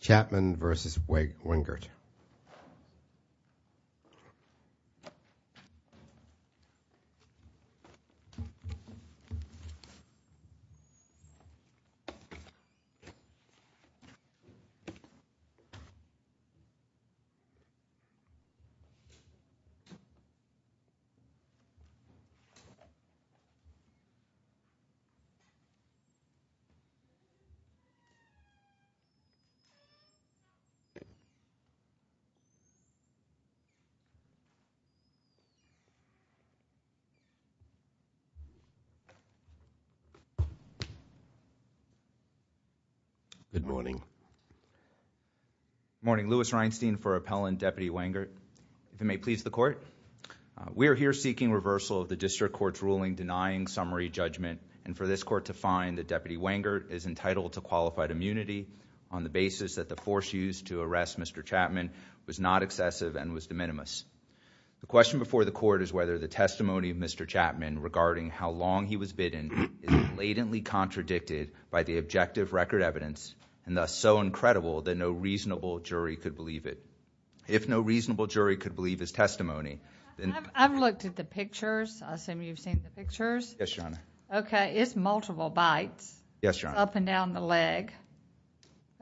Chatman versus Wengert Good morning. Good morning. Louis Reinstein for Appellant Deputy Wengert. If it may please the Court, we are here seeking reversal of the District Court's ruling denying summary judgment and for this Court to find that Deputy Wengert is entitled to qualified immunity on the basis that the force used to arrest Mr. Chatman was not excessive and was de minimis. The question before the Court is whether the testimony of Mr. Chatman regarding how long he was bidden is blatantly contradicted by the objective record evidence and thus so incredible that no reasonable jury could believe it. If no reasonable jury could believe his testimony... I've looked at the pictures. I assume you've seen the pictures. Yes, Your Honor. Okay. It's multiple bites. Yes, Your Honor. It's all up and down the leg.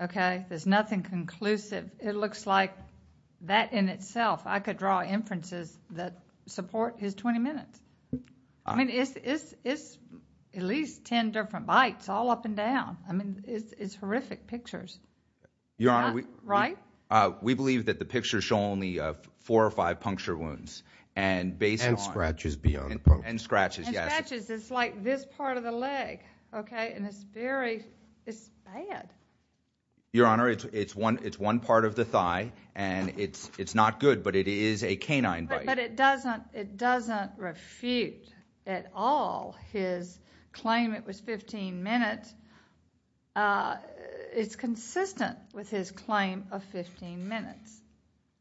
Okay? There's nothing conclusive. It looks like that in itself, I could draw inferences that support his 20 minutes. I mean, it's at least 10 different bites all up and down. I mean, it's horrific pictures. Your Honor, we... Right? We believe that the pictures show only four or five puncture wounds and based on... And scratches beyond... And scratches, yes. And scratches. It's like this part of the leg. Okay? And it's very... it's bad. Your Honor, it's one part of the thigh and it's not good, but it is a canine bite. But it doesn't refute at all his claim it was 15 minutes. It's consistent with his claim of 15 minutes.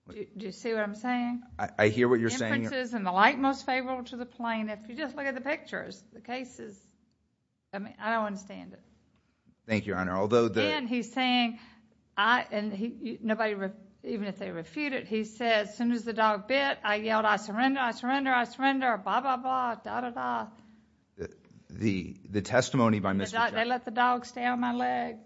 Do you see what I'm saying? I hear what you're saying. most favorable to the plain. If you just look at the pictures, the cases... I mean, I don't understand it. Thank you, Your Honor. Although the... And he's saying... and nobody... even if they refute it, he says, as soon as the dog bit, I yelled, I surrender, I surrender, I surrender, blah, blah, blah, dah, dah, dah. The testimony by Mr. Chapman... They let the dog stay on my leg.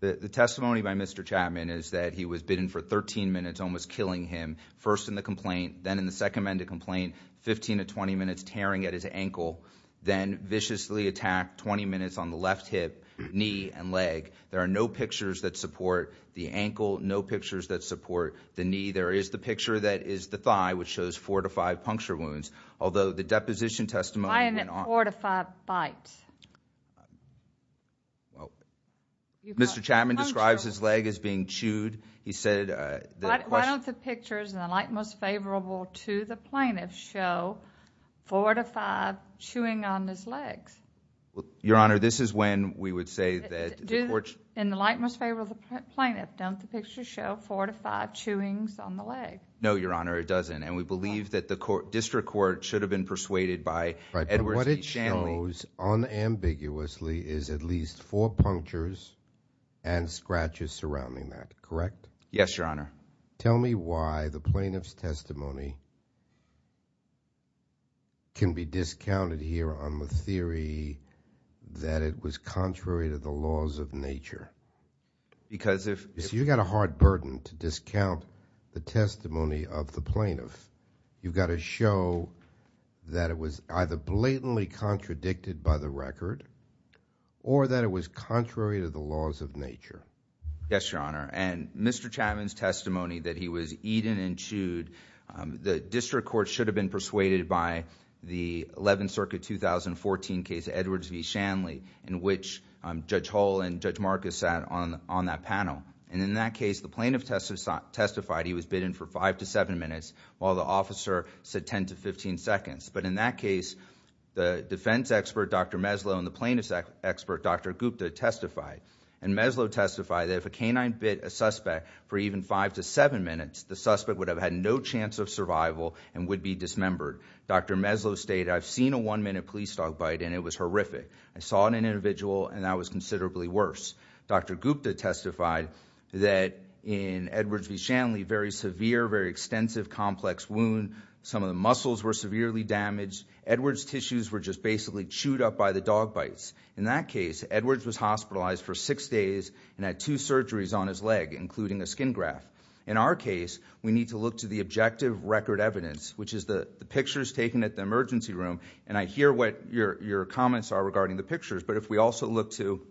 The testimony by Mr. Chapman is that he was bitten for 13 minutes, almost killing him, first in the complaint, then in the second amended complaint, 15 to 20 minutes, tearing at his ankle, then viciously attacked 20 minutes on the left hip, knee, and leg. There are no pictures that support the ankle, no pictures that support the knee. There is the picture that is the thigh, which shows four to five puncture wounds. Although the deposition testimony... Why isn't it four to five bites? Mr. Chapman describes his leg as being chewed. He said... Why don't the pictures, in the light most favorable to the plaintiff, show four to five chewing on his legs? Your Honor, this is when we would say that the court... In the light most favorable to the plaintiff, don't the pictures show four to five chewings on the leg? No, Your Honor, it doesn't. And we believe that the district court should have been persuaded by Edwards v. Shanley.... shows unambiguously is at least four punctures and scratches surrounding that, correct? Yes, Your Honor. Tell me why the plaintiff's testimony can be discounted here on the theory that it was contrary to the laws of nature. Because if... You've got a hard burden to discount the testimony of the plaintiff. You've got to show that it was either blatantly contradicted by the record or that it was contrary to the laws of nature. Yes, Your Honor. And Mr. Chapman's testimony that he was eaten and chewed, the district court should have been persuaded by the Eleventh Circuit 2014 case, Edwards v. Shanley, in which Judge Hull and Judge Marcus sat on that panel. And in that case, the plaintiff testified he was bitten for five to seven minutes while the officer said ten to fifteen seconds. But in that case, the defense expert, Dr. Meslow, and the plaintiff's expert, Dr. Gupta, testified. And Meslow testified that if a canine bit a suspect for even five to seven minutes, the suspect would have had no chance of survival and would be dismembered. Dr. Meslow stated, I've seen a one-minute police dog bite and it was horrific. I saw an individual and that was considerably worse. Dr. Gupta testified that in Edwards v. Shanley, very severe, very extensive, complex wound. Some of the muscles were severely damaged. Edwards' tissues were just basically chewed up by the dog bites. In that case, Edwards was hospitalized for six days and had two surgeries on his leg, including a skin graft. In our case, we need to look to the objective record evidence, which is the pictures taken at the emergency room, and I hear what your comments are regarding the pictures, but if we also look to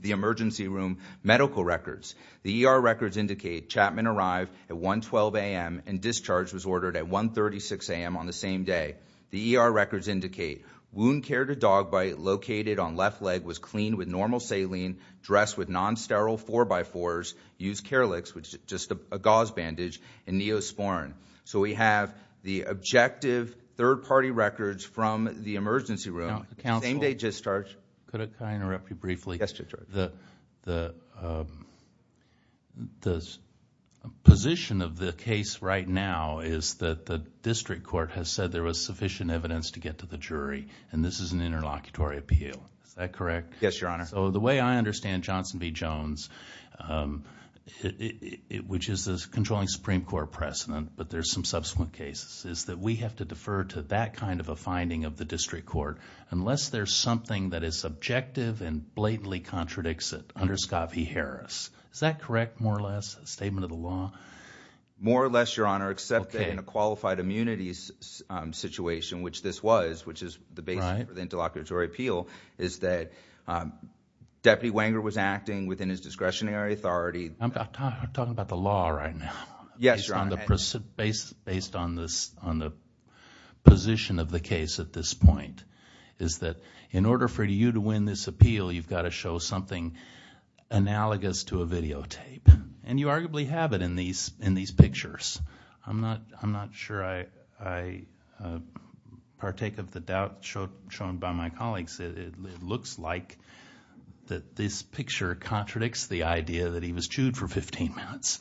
the emergency room medical records, the ER records indicate Chapman arrived at 1.12 a.m. and discharge was ordered at 1.36 a.m. on the same day. The ER records indicate wound care to dog bite located on left leg was cleaned with normal saline, dressed with non-sterile 4x4s, used Carelix, which is just a gauze bandage, and Neosporin. So we have the objective third-party records from the emergency room. Same day discharge. Could I interrupt you briefly? Yes, Judge George. The position of the case right now is that the district court has said there was sufficient evidence to get to the jury, and this is an interlocutory appeal. Is that correct? Yes, Your Honor. So the way I understand Johnson v. Jones, which is the controlling Supreme Court precedent, but there's some subsequent cases, is that we have to defer to that kind of a finding of the district court unless there's something that is subjective and blatantly contradicts it under Scoff v. Harris. Is that correct, more or less, a statement of the law? More or less, Your Honor, except that in a qualified immunities situation, which this was, which is the basis for the interlocutory appeal, is that Deputy Wenger was acting within his discretionary authority. I'm talking about the law right now. Yes, Your Honor. Based on the position of the case at this point is that in order for you to win this appeal, you've got to show something analogous to a videotape, and you arguably have it in these pictures. I'm not sure I partake of the doubt shown by my colleagues. It looks like that this picture contradicts the idea that he was chewed for 15 minutes.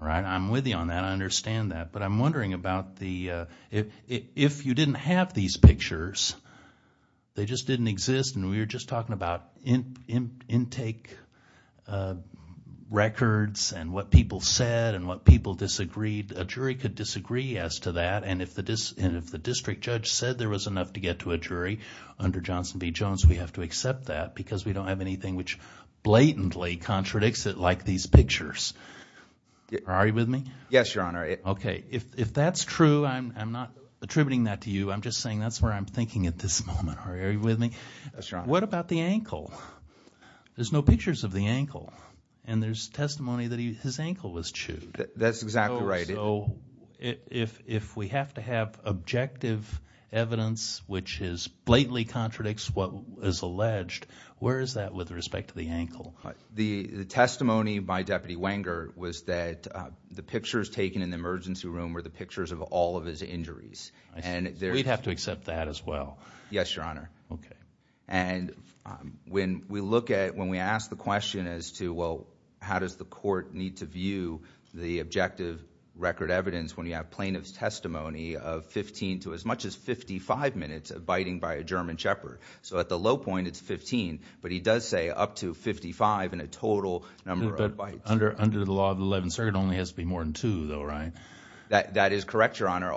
I'm with you on that. I understand that. But I'm wondering about if you didn't have these pictures, they just didn't exist, and we were just talking about intake records and what people said and what people disagreed. A jury could disagree as to that, and if the district judge said there was enough to get to a jury under Johnson v. Jones, we have to accept that because we don't have anything which blatantly contradicts it like these pictures. Are you with me? Yes, Your Honor. Okay. If that's true, I'm not attributing that to you. I'm just saying that's where I'm thinking at this moment. Are you with me? Yes, Your Honor. What about the ankle? There's no pictures of the ankle, and there's testimony that his ankle was chewed. That's exactly right. If we have to have objective evidence which blatantly contradicts what is alleged, where is that with respect to the ankle? The testimony by Deputy Wenger was that the pictures taken in the emergency room were the pictures of all of his injuries. We'd have to accept that as well. Yes, Your Honor. Okay. When we look at it, when we ask the question as to, well, how does the court need to view the objective record evidence when you have plaintiff's testimony of 15 to as much as 55 minutes of biting by a German shepherd? At the low point, it's 15, but he does say up to 55 in a total number of bites. Under the law of the 11th Circuit, it only has to be more than two though, right? That is correct, Your Honor.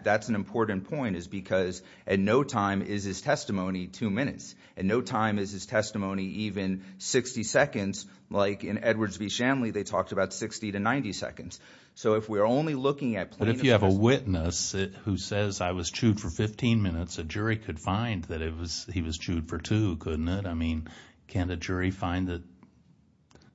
That's an important point is because at no time is his testimony two minutes. At no time is his testimony even 60 seconds. Like in Edwards v. Shanley, they talked about 60 to 90 seconds. So if we're only looking at plaintiff's testimony. But if you have a witness who says, I was chewed for 15 minutes, a jury could find that he was chewed for two, couldn't it? I mean, can't a jury find that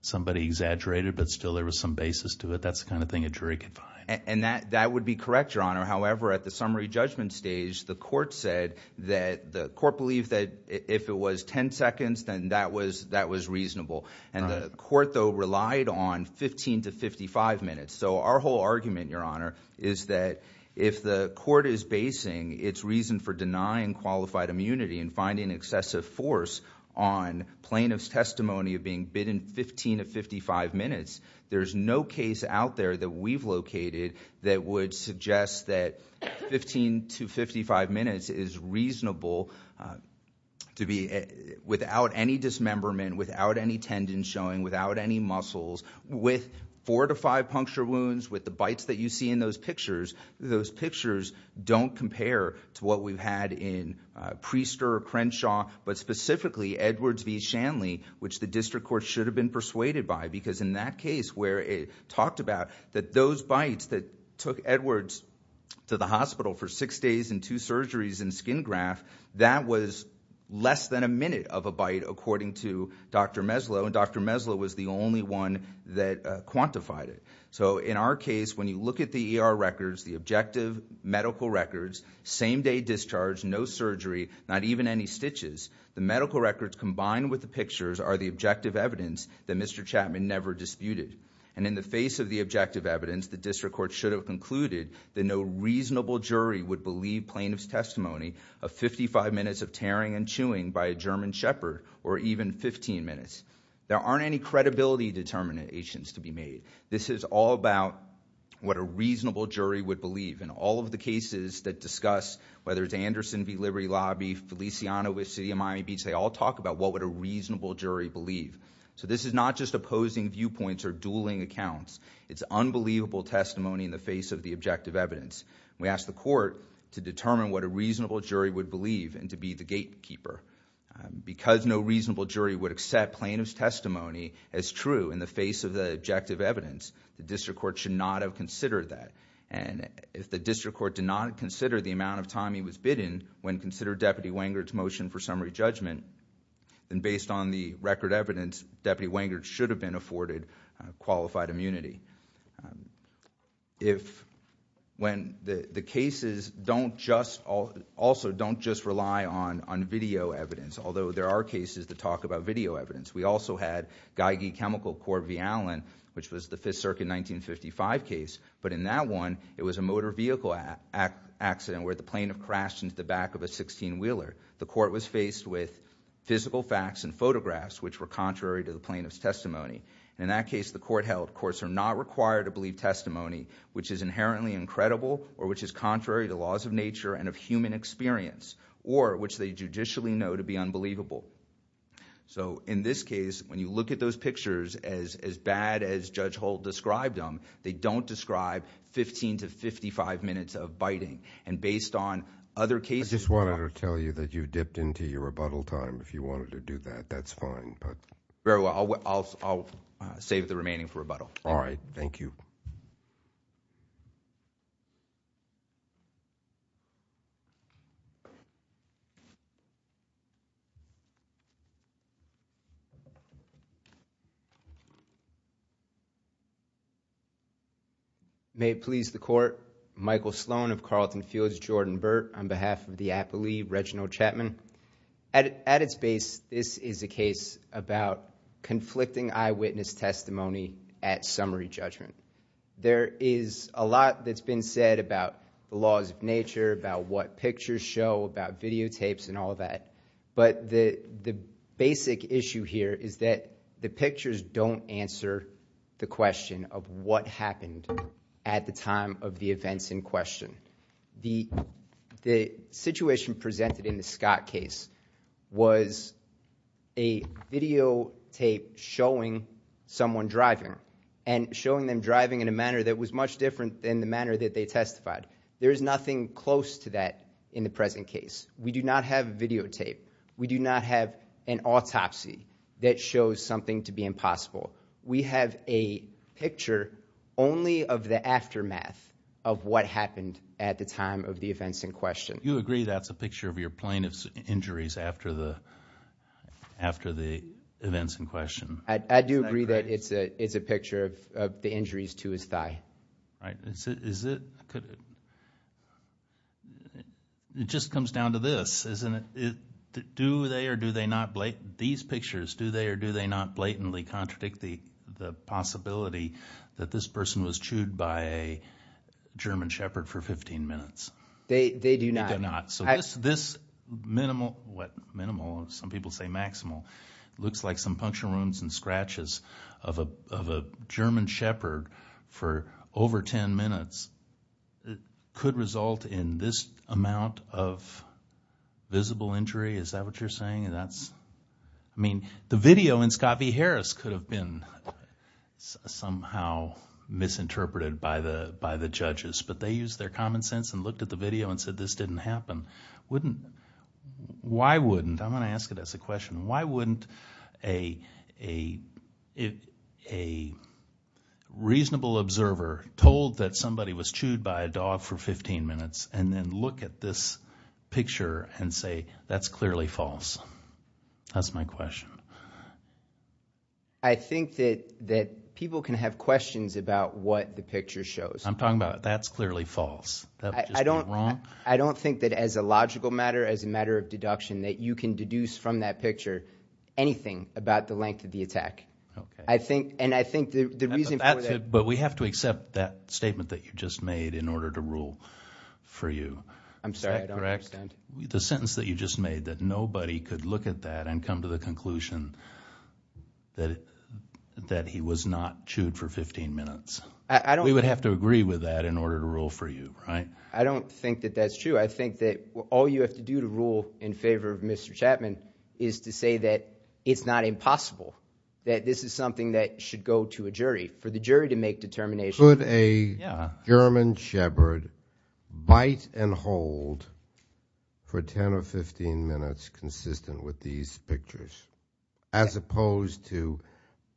somebody exaggerated but still there was some basis to it? That's the kind of thing a jury could find. And that would be correct, Your Honor. However, at the summary judgment stage, the court said that the court believed that if it was 10 seconds, then that was reasonable. And the court, though, relied on 15 to 55 minutes. So our whole argument, Your Honor, is that if the court is basing its reason for denying qualified immunity and finding excessive force on plaintiff's testimony of being bitten 15 to 55 minutes, there's no case out there that we've located that would suggest that 15 to 55 minutes is reasonable without any dismemberment, without any tendon showing, without any muscles. With four to five puncture wounds, with the bites that you see in those pictures, those pictures don't compare to what we've had in Priester or Crenshaw. But specifically, Edwards v. Shanley, which the district court should have been persuaded by. Because in that case where it talked about that those bites that took Edwards to the hospital for six days and two surgeries and skin graft, that was less than a minute of a bite according to Dr. Meslow. And Dr. Meslow was the only one that quantified it. So in our case, when you look at the ER records, the objective medical records, same day discharge, no surgery, not even any stitches, the medical records combined with the pictures are the objective evidence that Mr. Chapman never disputed. And in the face of the objective evidence, the district court should have concluded that no reasonable jury would believe plaintiff's testimony of 55 minutes of tearing and chewing by a German shepherd or even 15 minutes. There aren't any credibility determinations to be made. This is all about what a reasonable jury would believe. In all of the cases that discuss, whether it's Anderson v. Liberty Lobby, Feliciano v. City of Miami Beach, they all talk about what would a reasonable jury believe. So this is not just opposing viewpoints or dueling accounts. It's unbelievable testimony in the face of the objective evidence. We ask the court to determine what a reasonable jury would believe and to be the gatekeeper. Because no reasonable jury would accept plaintiff's testimony as true in the face of the objective evidence, the district court should not have considered that. And if the district court did not consider the amount of time he was bidden when considering Deputy Wengert's motion for summary judgment, then based on the record evidence, Deputy Wengert should have been afforded qualified immunity. The cases also don't just rely on video evidence, although there are cases that talk about video evidence. We also had Geigy Chemical Court v. Allen, which was the 5th Circuit 1955 case. But in that one, it was a motor vehicle accident where the plaintiff crashed into the back of a 16-wheeler. The court was faced with physical facts and photographs which were contrary to the plaintiff's testimony. In that case, the court held courts are not required to believe testimony which is inherently incredible or which is contrary to laws of nature and of human experience, or which they judicially know to be unbelievable. So in this case, when you look at those pictures, as bad as Judge Holt described them, they don't describe 15 to 55 minutes of biting. And based on other cases- I just wanted to tell you that you dipped into your rebuttal time. If you wanted to do that, that's fine. Very well. I'll save the remaining for rebuttal. All right. Thank you. May it please the court. Michael Sloan of Carleton Fields. Jordan Burt on behalf of the appellee, Reginald Chapman. At its base, this is a case about conflicting eyewitness testimony at summary judgment. There is a lot that's been said about the laws of nature, about what pictures show, about videotapes and all that. But the basic issue here is that the pictures don't answer the question of what happened at the time of the events in question. The situation presented in the Scott case was a videotape showing someone driving and showing them driving in a manner that was much different than the manner that they testified. There is nothing close to that in the present case. We do not have videotape. We do not have an autopsy that shows something to be impossible. We have a picture only of the aftermath of what happened at the time of the events in question. Do you agree that's a picture of your plaintiff's injuries after the events in question? I do agree that it's a picture of the injuries to his thigh. It just comes down to this. Do they or do they not blatantly contradict the possibility that this person was chewed by a German shepherd for 15 minutes? They do not. This minimal, some people say maximal, looks like some puncture wounds and scratches of a German shepherd for over 10 minutes. It could result in this amount of visible injury. Is that what you're saying? The video in Scott v. Harris could have been somehow misinterpreted by the judges. But they used their common sense and looked at the video and said this didn't happen. Why wouldn't, I'm going to ask it as a question. Why wouldn't a reasonable observer told that somebody was chewed by a dog for 15 minutes and then look at this picture and say that's clearly false? That's my question. I think that people can have questions about what the picture shows. I'm talking about that's clearly false. I don't think that as a logical matter, as a matter of deduction, that you can deduce from that picture anything about the length of the attack. Okay. And I think the reason for that – But we have to accept that statement that you just made in order to rule for you. I'm sorry, I don't understand. Is that correct? The sentence that you just made that nobody could look at that and come to the conclusion that he was not chewed for 15 minutes. I don't – You have to agree with that in order to rule for you, right? I don't think that that's true. I think that all you have to do to rule in favor of Mr. Chapman is to say that it's not impossible, that this is something that should go to a jury. For the jury to make determinations – Could a German shepherd bite and hold for 10 or 15 minutes consistent with these pictures as opposed to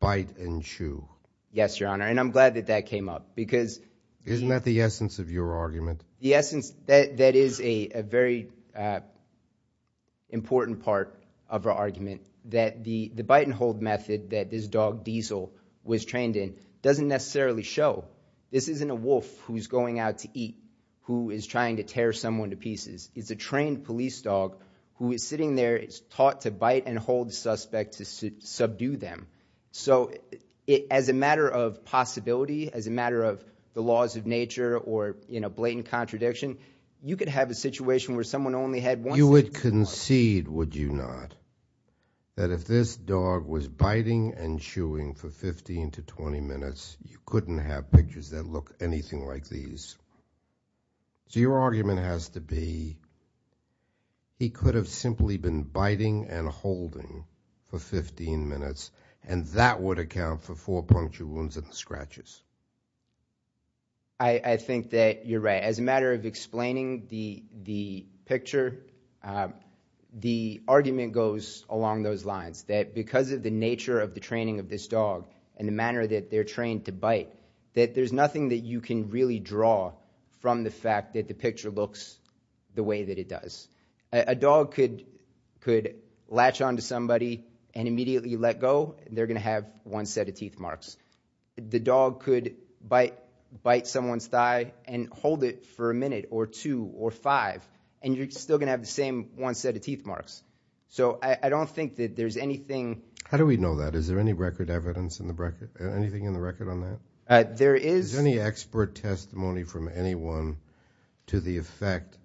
bite and chew? Yes, Your Honor, and I'm glad that that came up because – Isn't that the essence of your argument? The essence – that is a very important part of our argument that the bite and hold method that this dog, Diesel, was trained in doesn't necessarily show. This isn't a wolf who's going out to eat who is trying to tear someone to pieces. It's a trained police dog who is sitting there. It's taught to bite and hold the suspect to subdue them. So as a matter of possibility, as a matter of the laws of nature or blatant contradiction, you could have a situation where someone only had one – You would concede, would you not, that if this dog was biting and chewing for 15 to 20 minutes, you couldn't have pictures that look anything like these. So your argument has to be he could have simply been biting and holding for 15 minutes, and that would account for four puncture wounds and scratches. I think that you're right. As a matter of explaining the picture, the argument goes along those lines, that because of the nature of the training of this dog and the manner that they're trained to bite, that there's nothing that you can really draw from the fact that the picture looks the way that it does. A dog could latch onto somebody and immediately let go, and they're going to have one set of teeth marks. The dog could bite someone's thigh and hold it for a minute or two or five, and you're still going to have the same one set of teeth marks. So I don't think that there's anything – Is there any expert testimony from anyone to the effect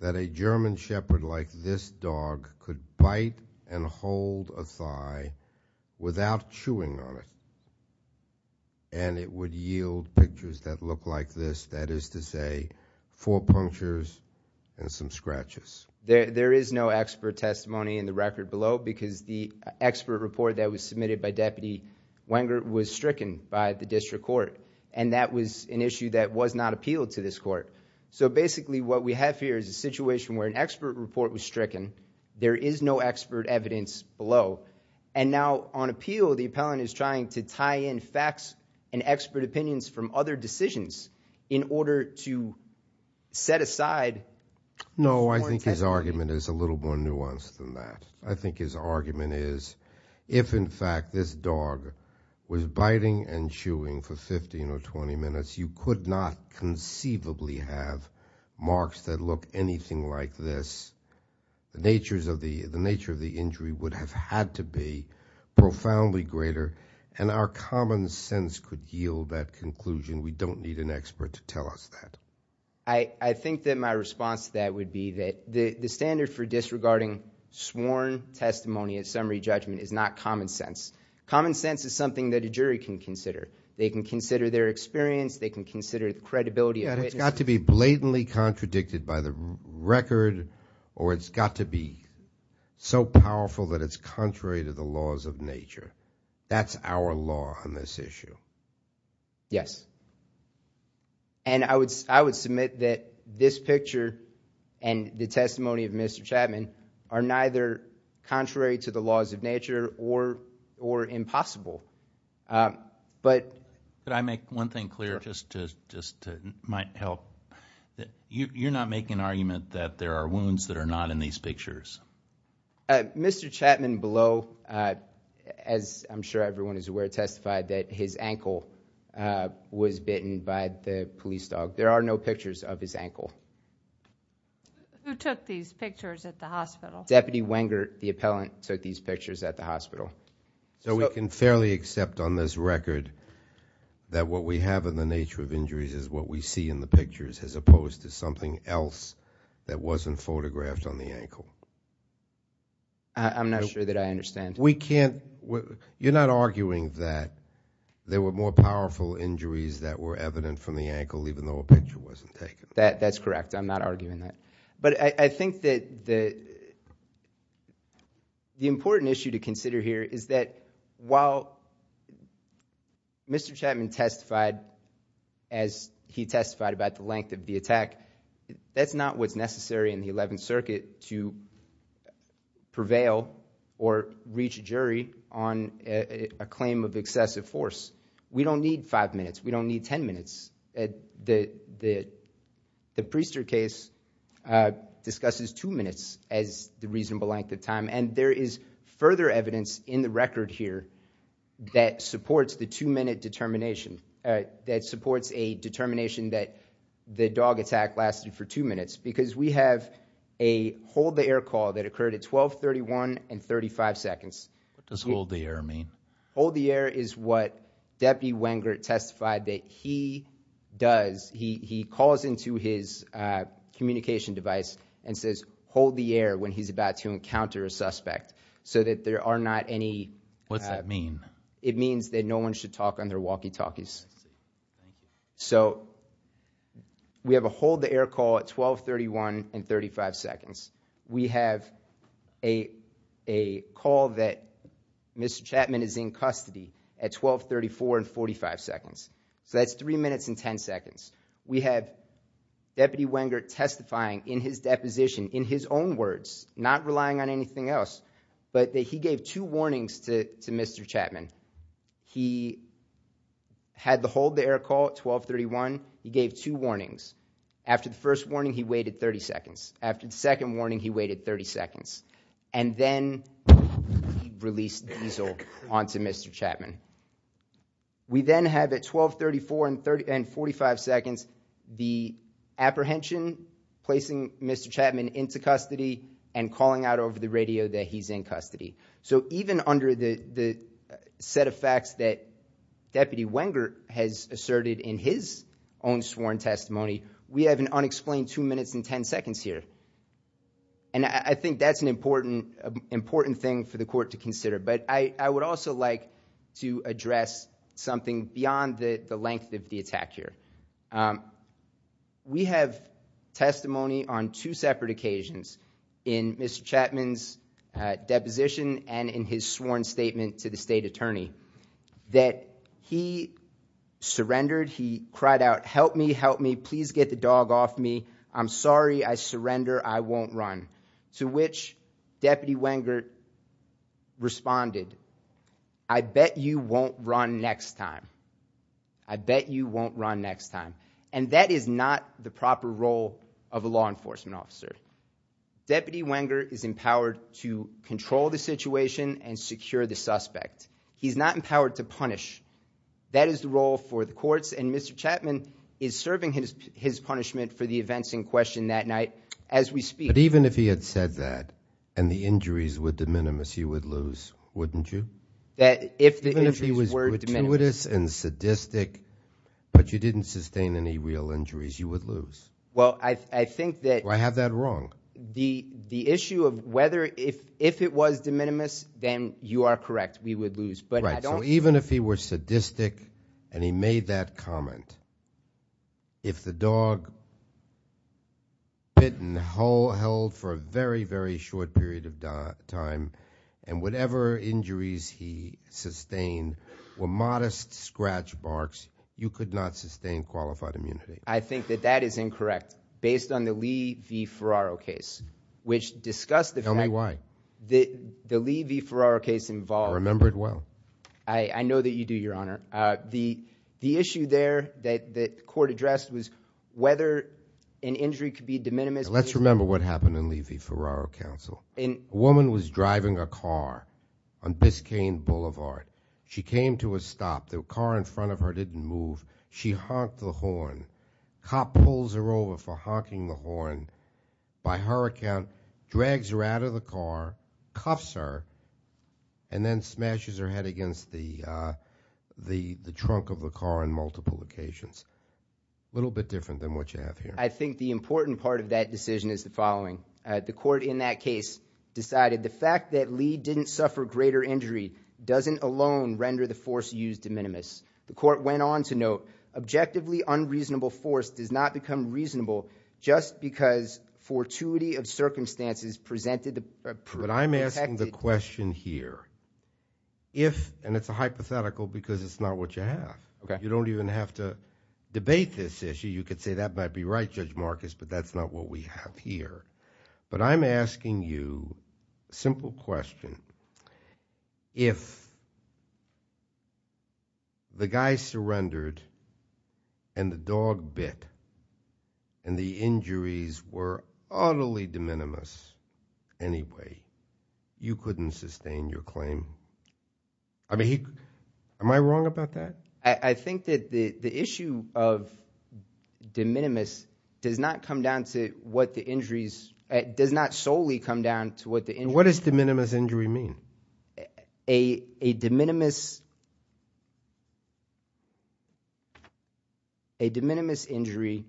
that a German shepherd like this dog could bite and hold a thigh without chewing on it, and it would yield pictures that look like this, that is to say four punctures and some scratches? There is no expert testimony in the record below because the expert report that was submitted by Deputy Wenger was stricken by the district court, and that was an issue that was not appealed to this court. So basically what we have here is a situation where an expert report was stricken. There is no expert evidence below, and now on appeal, the appellant is trying to tie in facts and expert opinions from other decisions in order to set aside – No, I think his argument is a little more nuanced than that. I think his argument is if, in fact, this dog was biting and chewing for 15 or 20 minutes, you could not conceivably have marks that look anything like this. The nature of the injury would have had to be profoundly greater, and our common sense could yield that conclusion. We don't need an expert to tell us that. I think that my response to that would be that the standard for disregarding sworn testimony at summary judgment is not common sense. Common sense is something that a jury can consider. They can consider their experience. They can consider the credibility of witnesses. It's got to be blatantly contradicted by the record, or it's got to be so powerful that it's contrary to the laws of nature. That's our law on this issue. Yes. And I would submit that this picture and the testimony of Mr. Chapman are neither contrary to the laws of nature or impossible. But – Could I make one thing clear, just to – might help? You're not making an argument that there are wounds that are not in these pictures? Mr. Chapman below, as I'm sure everyone is aware, testified that his ankle was bitten by the police dog. There are no pictures of his ankle. Who took these pictures at the hospital? Deputy Wenger, the appellant, took these pictures at the hospital. So we can fairly accept on this record that what we have in the nature of injuries is what we see in the pictures, as opposed to something else that wasn't photographed on the ankle? I'm not sure that I understand. We can't – you're not arguing that there were more powerful injuries that were evident from the ankle, even though a picture wasn't taken? That's correct. I'm not arguing that. But I think that the important issue to consider here is that while Mr. Chapman testified as he testified about the length of the attack, that's not what's necessary in the Eleventh Circuit to prevail or reach a jury on a claim of excessive force. We don't need five minutes. We don't need ten minutes. The Priester case discusses two minutes as the reasonable length of time, and there is further evidence in the record here that supports the two-minute determination, that supports a determination that the dog attack lasted for two minutes, because we have a hold-the-air call that occurred at 12.31 and 35 seconds. What does hold-the-air mean? Hold-the-air is what Deputy Wengert testified that he does. He calls into his communication device and says hold-the-air when he's about to encounter a suspect so that there are not any – What's that mean? It means that no one should talk on their walkie-talkies. I see. Thank you. So we have a hold-the-air call at 12.31 and 35 seconds. We have a call that Mr. Chapman is in custody at 12.34 and 45 seconds. So that's three minutes and ten seconds. We have Deputy Wengert testifying in his deposition in his own words, not relying on anything else, but that he gave two warnings to Mr. Chapman. He had the hold-the-air call at 12.31. He gave two warnings. After the first warning, he waited 30 seconds. After the second warning, he waited 30 seconds. And then he released diesel onto Mr. Chapman. We then have at 12.34 and 45 seconds the apprehension, placing Mr. Chapman into custody, and calling out over the radio that he's in custody. So even under the set of facts that Deputy Wengert has asserted in his own sworn testimony, we have an unexplained two minutes and ten seconds here. And I think that's an important thing for the court to consider. But I would also like to address something beyond the length of the attack here. We have testimony on two separate occasions in Mr. Chapman's deposition and in his sworn statement to the state attorney that he surrendered, he cried out, help me, help me, please get the dog off me, I'm sorry, I surrender, I won't run, to which Deputy Wengert responded, I bet you won't run next time. I bet you won't run next time. And that is not the proper role of a law enforcement officer. Deputy Wengert is empowered to control the situation and secure the suspect. He's not empowered to punish. That is the role for the courts, and Mr. Chapman is serving his punishment for the events in question that night as we speak. But even if he had said that and the injuries were de minimis, you would lose, wouldn't you? That if the injuries were de minimis. Even if he was gratuitous and sadistic but you didn't sustain any real injuries, you would lose. Well, I think that the issue of whether if it was de minimis, then you are correct, we would lose. Right, so even if he were sadistic and he made that comment, if the dog bit and held for a very, very short period of time, and whatever injuries he sustained were modest scratch marks, you could not sustain qualified immunity. I think that that is incorrect. Based on the Lee v. Ferraro case, which discussed the fact- Tell me why. The Lee v. Ferraro case involved- I remember it well. I know that you do, Your Honor. The issue there that the court addressed was whether an injury could be de minimis. Let's remember what happened in Lee v. Ferraro counsel. A woman was driving a car on Biscayne Boulevard. She came to a stop. The car in front of her didn't move. Cop pulls her over for honking the horn. By her account, drags her out of the car, cuffs her, and then smashes her head against the trunk of the car on multiple occasions. A little bit different than what you have here. I think the important part of that decision is the following. The court in that case decided the fact that Lee didn't suffer greater injury doesn't alone render the force used de minimis. The court went on to note, objectively unreasonable force does not become reasonable just because fortuity of circumstances presented- But I'm asking the question here. If, and it's a hypothetical because it's not what you have. You don't even have to debate this issue. You could say that might be right, Judge Marcus, but that's not what we have here. But I'm asking you a simple question. If the guy surrendered and the dog bit and the injuries were utterly de minimis anyway, you couldn't sustain your claim? I mean, am I wrong about that? I think that the issue of de minimis does not come down to what the injuries- does not solely come down to what the injuries- So what does de minimis injury mean? A de minimis injury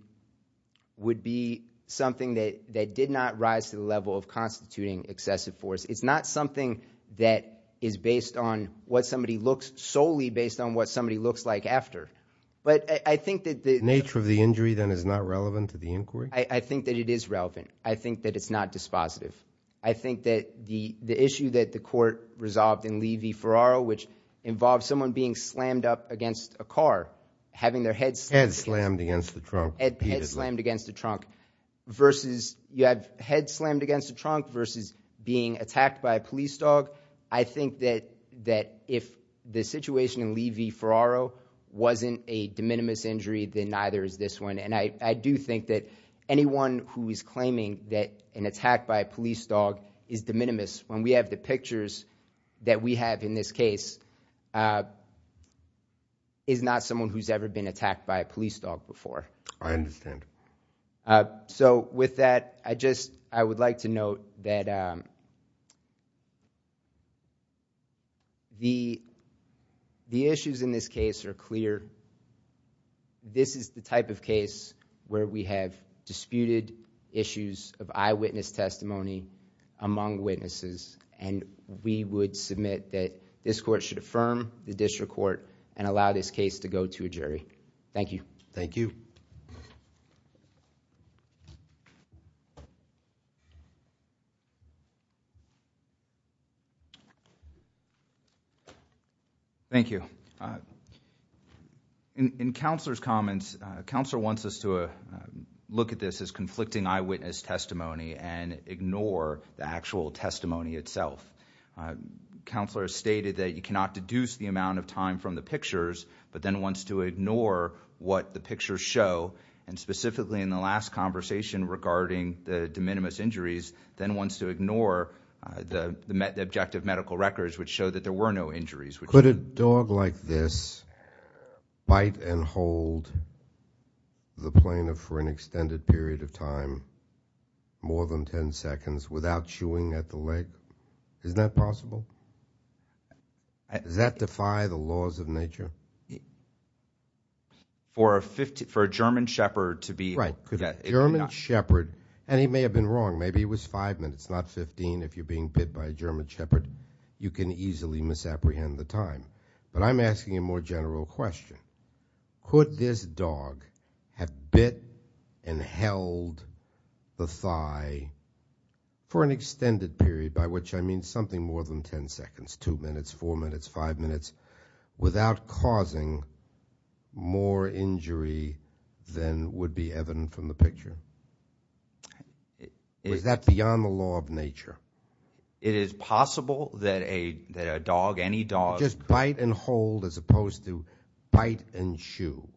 would be something that did not rise to the level of constituting excessive force. It's not something that is based on what somebody looks- solely based on what somebody looks like after. But I think that the- The nature of the injury then is not relevant to the inquiry? I think that it is relevant. I think that it's not dispositive. I think that the issue that the court resolved in Lee v. Ferraro, which involves someone being slammed up against a car, having their head slammed- Head slammed against the trunk repeatedly. Head slammed against the trunk versus- You have head slammed against the trunk versus being attacked by a police dog. I think that if the situation in Lee v. Ferraro wasn't a de minimis injury, then neither is this one. And I do think that anyone who is claiming that an attack by a police dog is de minimis, when we have the pictures that we have in this case, is not someone who's ever been attacked by a police dog before. I understand. So with that, I just- I would like to note that the issues in this case are clear. This is the type of case where we have disputed issues of eyewitness testimony among witnesses and we would submit that this court should affirm the district court and allow this case to go to a jury. Thank you. Thank you. Thank you. In Counselor's comments, Counselor wants us to look at this as conflicting eyewitness testimony and ignore the actual testimony itself. Counselor has stated that you cannot deduce the amount of time from the pictures but then wants to ignore what the pictures show, and specifically in the last conversation regarding the de minimis injuries, then wants to ignore the objective medical records which show that there were no injuries. Could a dog like this bite and hold the plaintiff for an extended period of time, more than 10 seconds, without chewing at the leg? Isn't that possible? Does that defy the laws of nature? For a German shepherd to be- Right. German shepherd, and he may have been wrong. Maybe he was five minutes, not 15. If you're being bit by a German shepherd, you can easily misapprehend the time. But I'm asking a more general question. Could this dog have bit and held the thigh for an extended period, by which I mean something more than 10 seconds, 2 minutes, 4 minutes, 5 minutes, without causing more injury than would be evident from the picture? Is that beyond the law of nature? It is possible that a dog, any dog- Just bite and hold as opposed to bite and chew.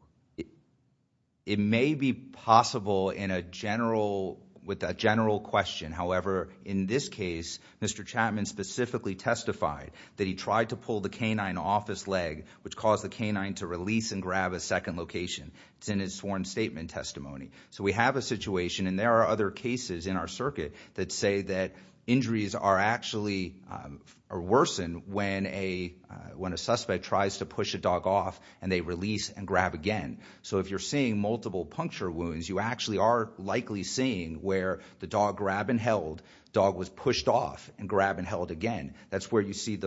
It may be possible with a general question. However, in this case, Mr. Chapman specifically testified that he tried to pull the canine off his leg, which caused the canine to release and grab a second location. It's in his sworn statement testimony. So we have a situation, and there are other cases in our circuit, that say that injuries are actually worsened when a suspect tries to push a dog off, and they release and grab again. So if you're seeing multiple puncture wounds, you actually are likely seeing where the dog grabbed and held, the dog was pushed off and grabbed and held again. That's where you see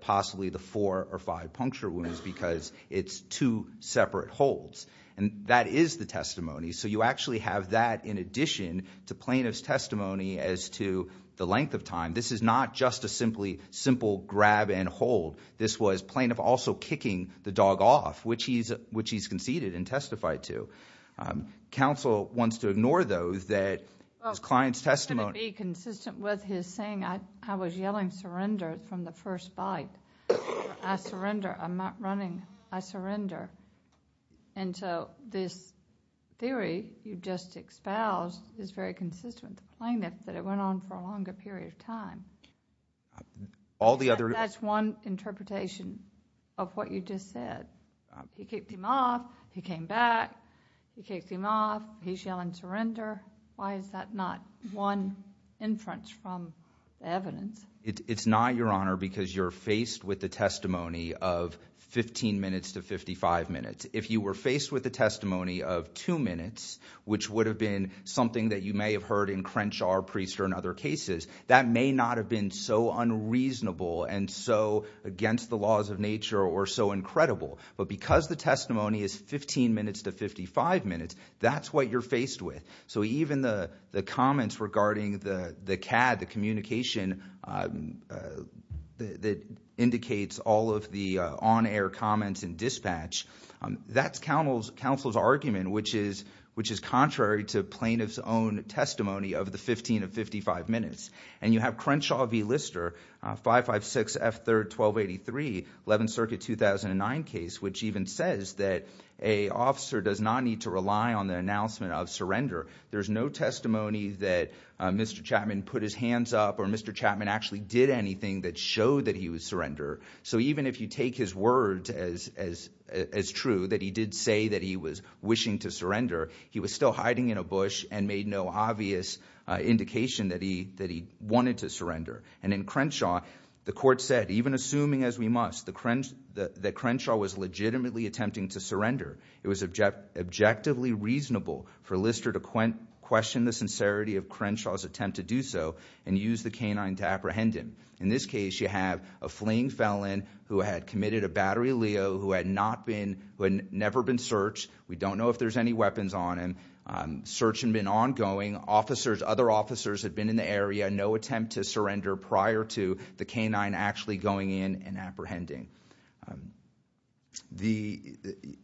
possibly the four or five puncture wounds, because it's two separate holds. And that is the testimony. So you actually have that in addition to plaintiff's testimony as to the length of time. This is not just a simple grab and hold. This was plaintiff also kicking the dog off, which he's conceded and testified to. Counsel wants to ignore, though, that his client's testimony- I'm going to be consistent with his saying. I was yelling surrender from the first bite. I surrender. I'm not running. I surrender. And so this theory you just espoused is very consistent with the plaintiff that it went on for a longer period of time. All the other- That's one interpretation of what you just said. He kicked him off. He came back. He kicked him off. He's yelling surrender. Why is that not one inference from the evidence? It's not, Your Honor, because you're faced with the testimony of 15 minutes to 55 minutes. If you were faced with the testimony of two minutes, which would have been something that you may have heard in Crenshaw or Priester and other cases, that may not have been so unreasonable and so against the laws of nature or so incredible. But because the testimony is 15 minutes to 55 minutes, that's what you're faced with. So even the comments regarding the CAD, the communication that indicates all of the on-air comments and dispatch, that's counsel's argument, which is contrary to plaintiff's own testimony of the 15 to 55 minutes. And you have Crenshaw v. Lister, 556F31283, 11th Circuit 2009 case, which even says that a officer does not need to rely on the announcement of surrender. There's no testimony that Mr. Chapman put his hands up or Mr. Chapman actually did anything that showed that he would surrender. So even if you take his words as true, that he did say that he was wishing to surrender, he was still hiding in a bush and made no obvious indication that he wanted to surrender. And in Crenshaw, the court said, even assuming as we must, that Crenshaw was legitimately attempting to surrender. It was objectively reasonable for Lister to question the sincerity of Crenshaw's attempt to do so and use the canine to apprehend him. In this case, you have a fleeing felon who had committed a battery leo, who had never been searched. We don't know if there's any weapons on him. Search had been ongoing, other officers had been in the area, no attempt to surrender prior to the canine actually going in and apprehending.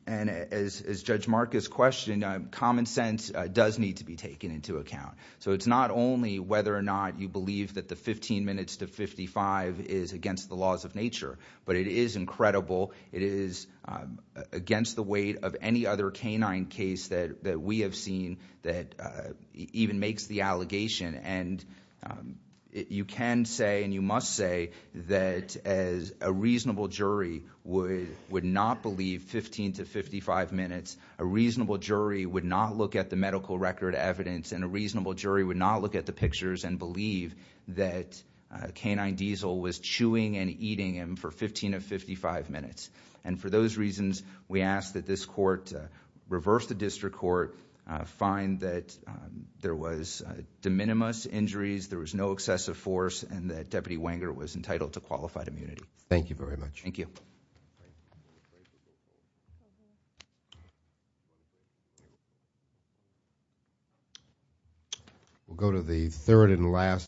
And as Judge Marcus questioned, common sense does need to be taken into account. So it's not only whether or not you believe that the 15 minutes to 55 is against the laws of nature, but it is incredible. It is against the weight of any other canine case that we have seen that even makes the allegation. And you can say and you must say that a reasonable jury would not believe 15 to 55 minutes. A reasonable jury would not look at the medical record evidence. And a reasonable jury would not look at the pictures and believe that canine diesel was chewing and eating him for 15 to 55 minutes. And for those reasons, we ask that this court reverse the district court, find that there was de minimis injuries, there was no excessive force, and that Deputy Wenger was entitled to qualified immunity. Thank you very much. Thank you. We'll go to the third and last.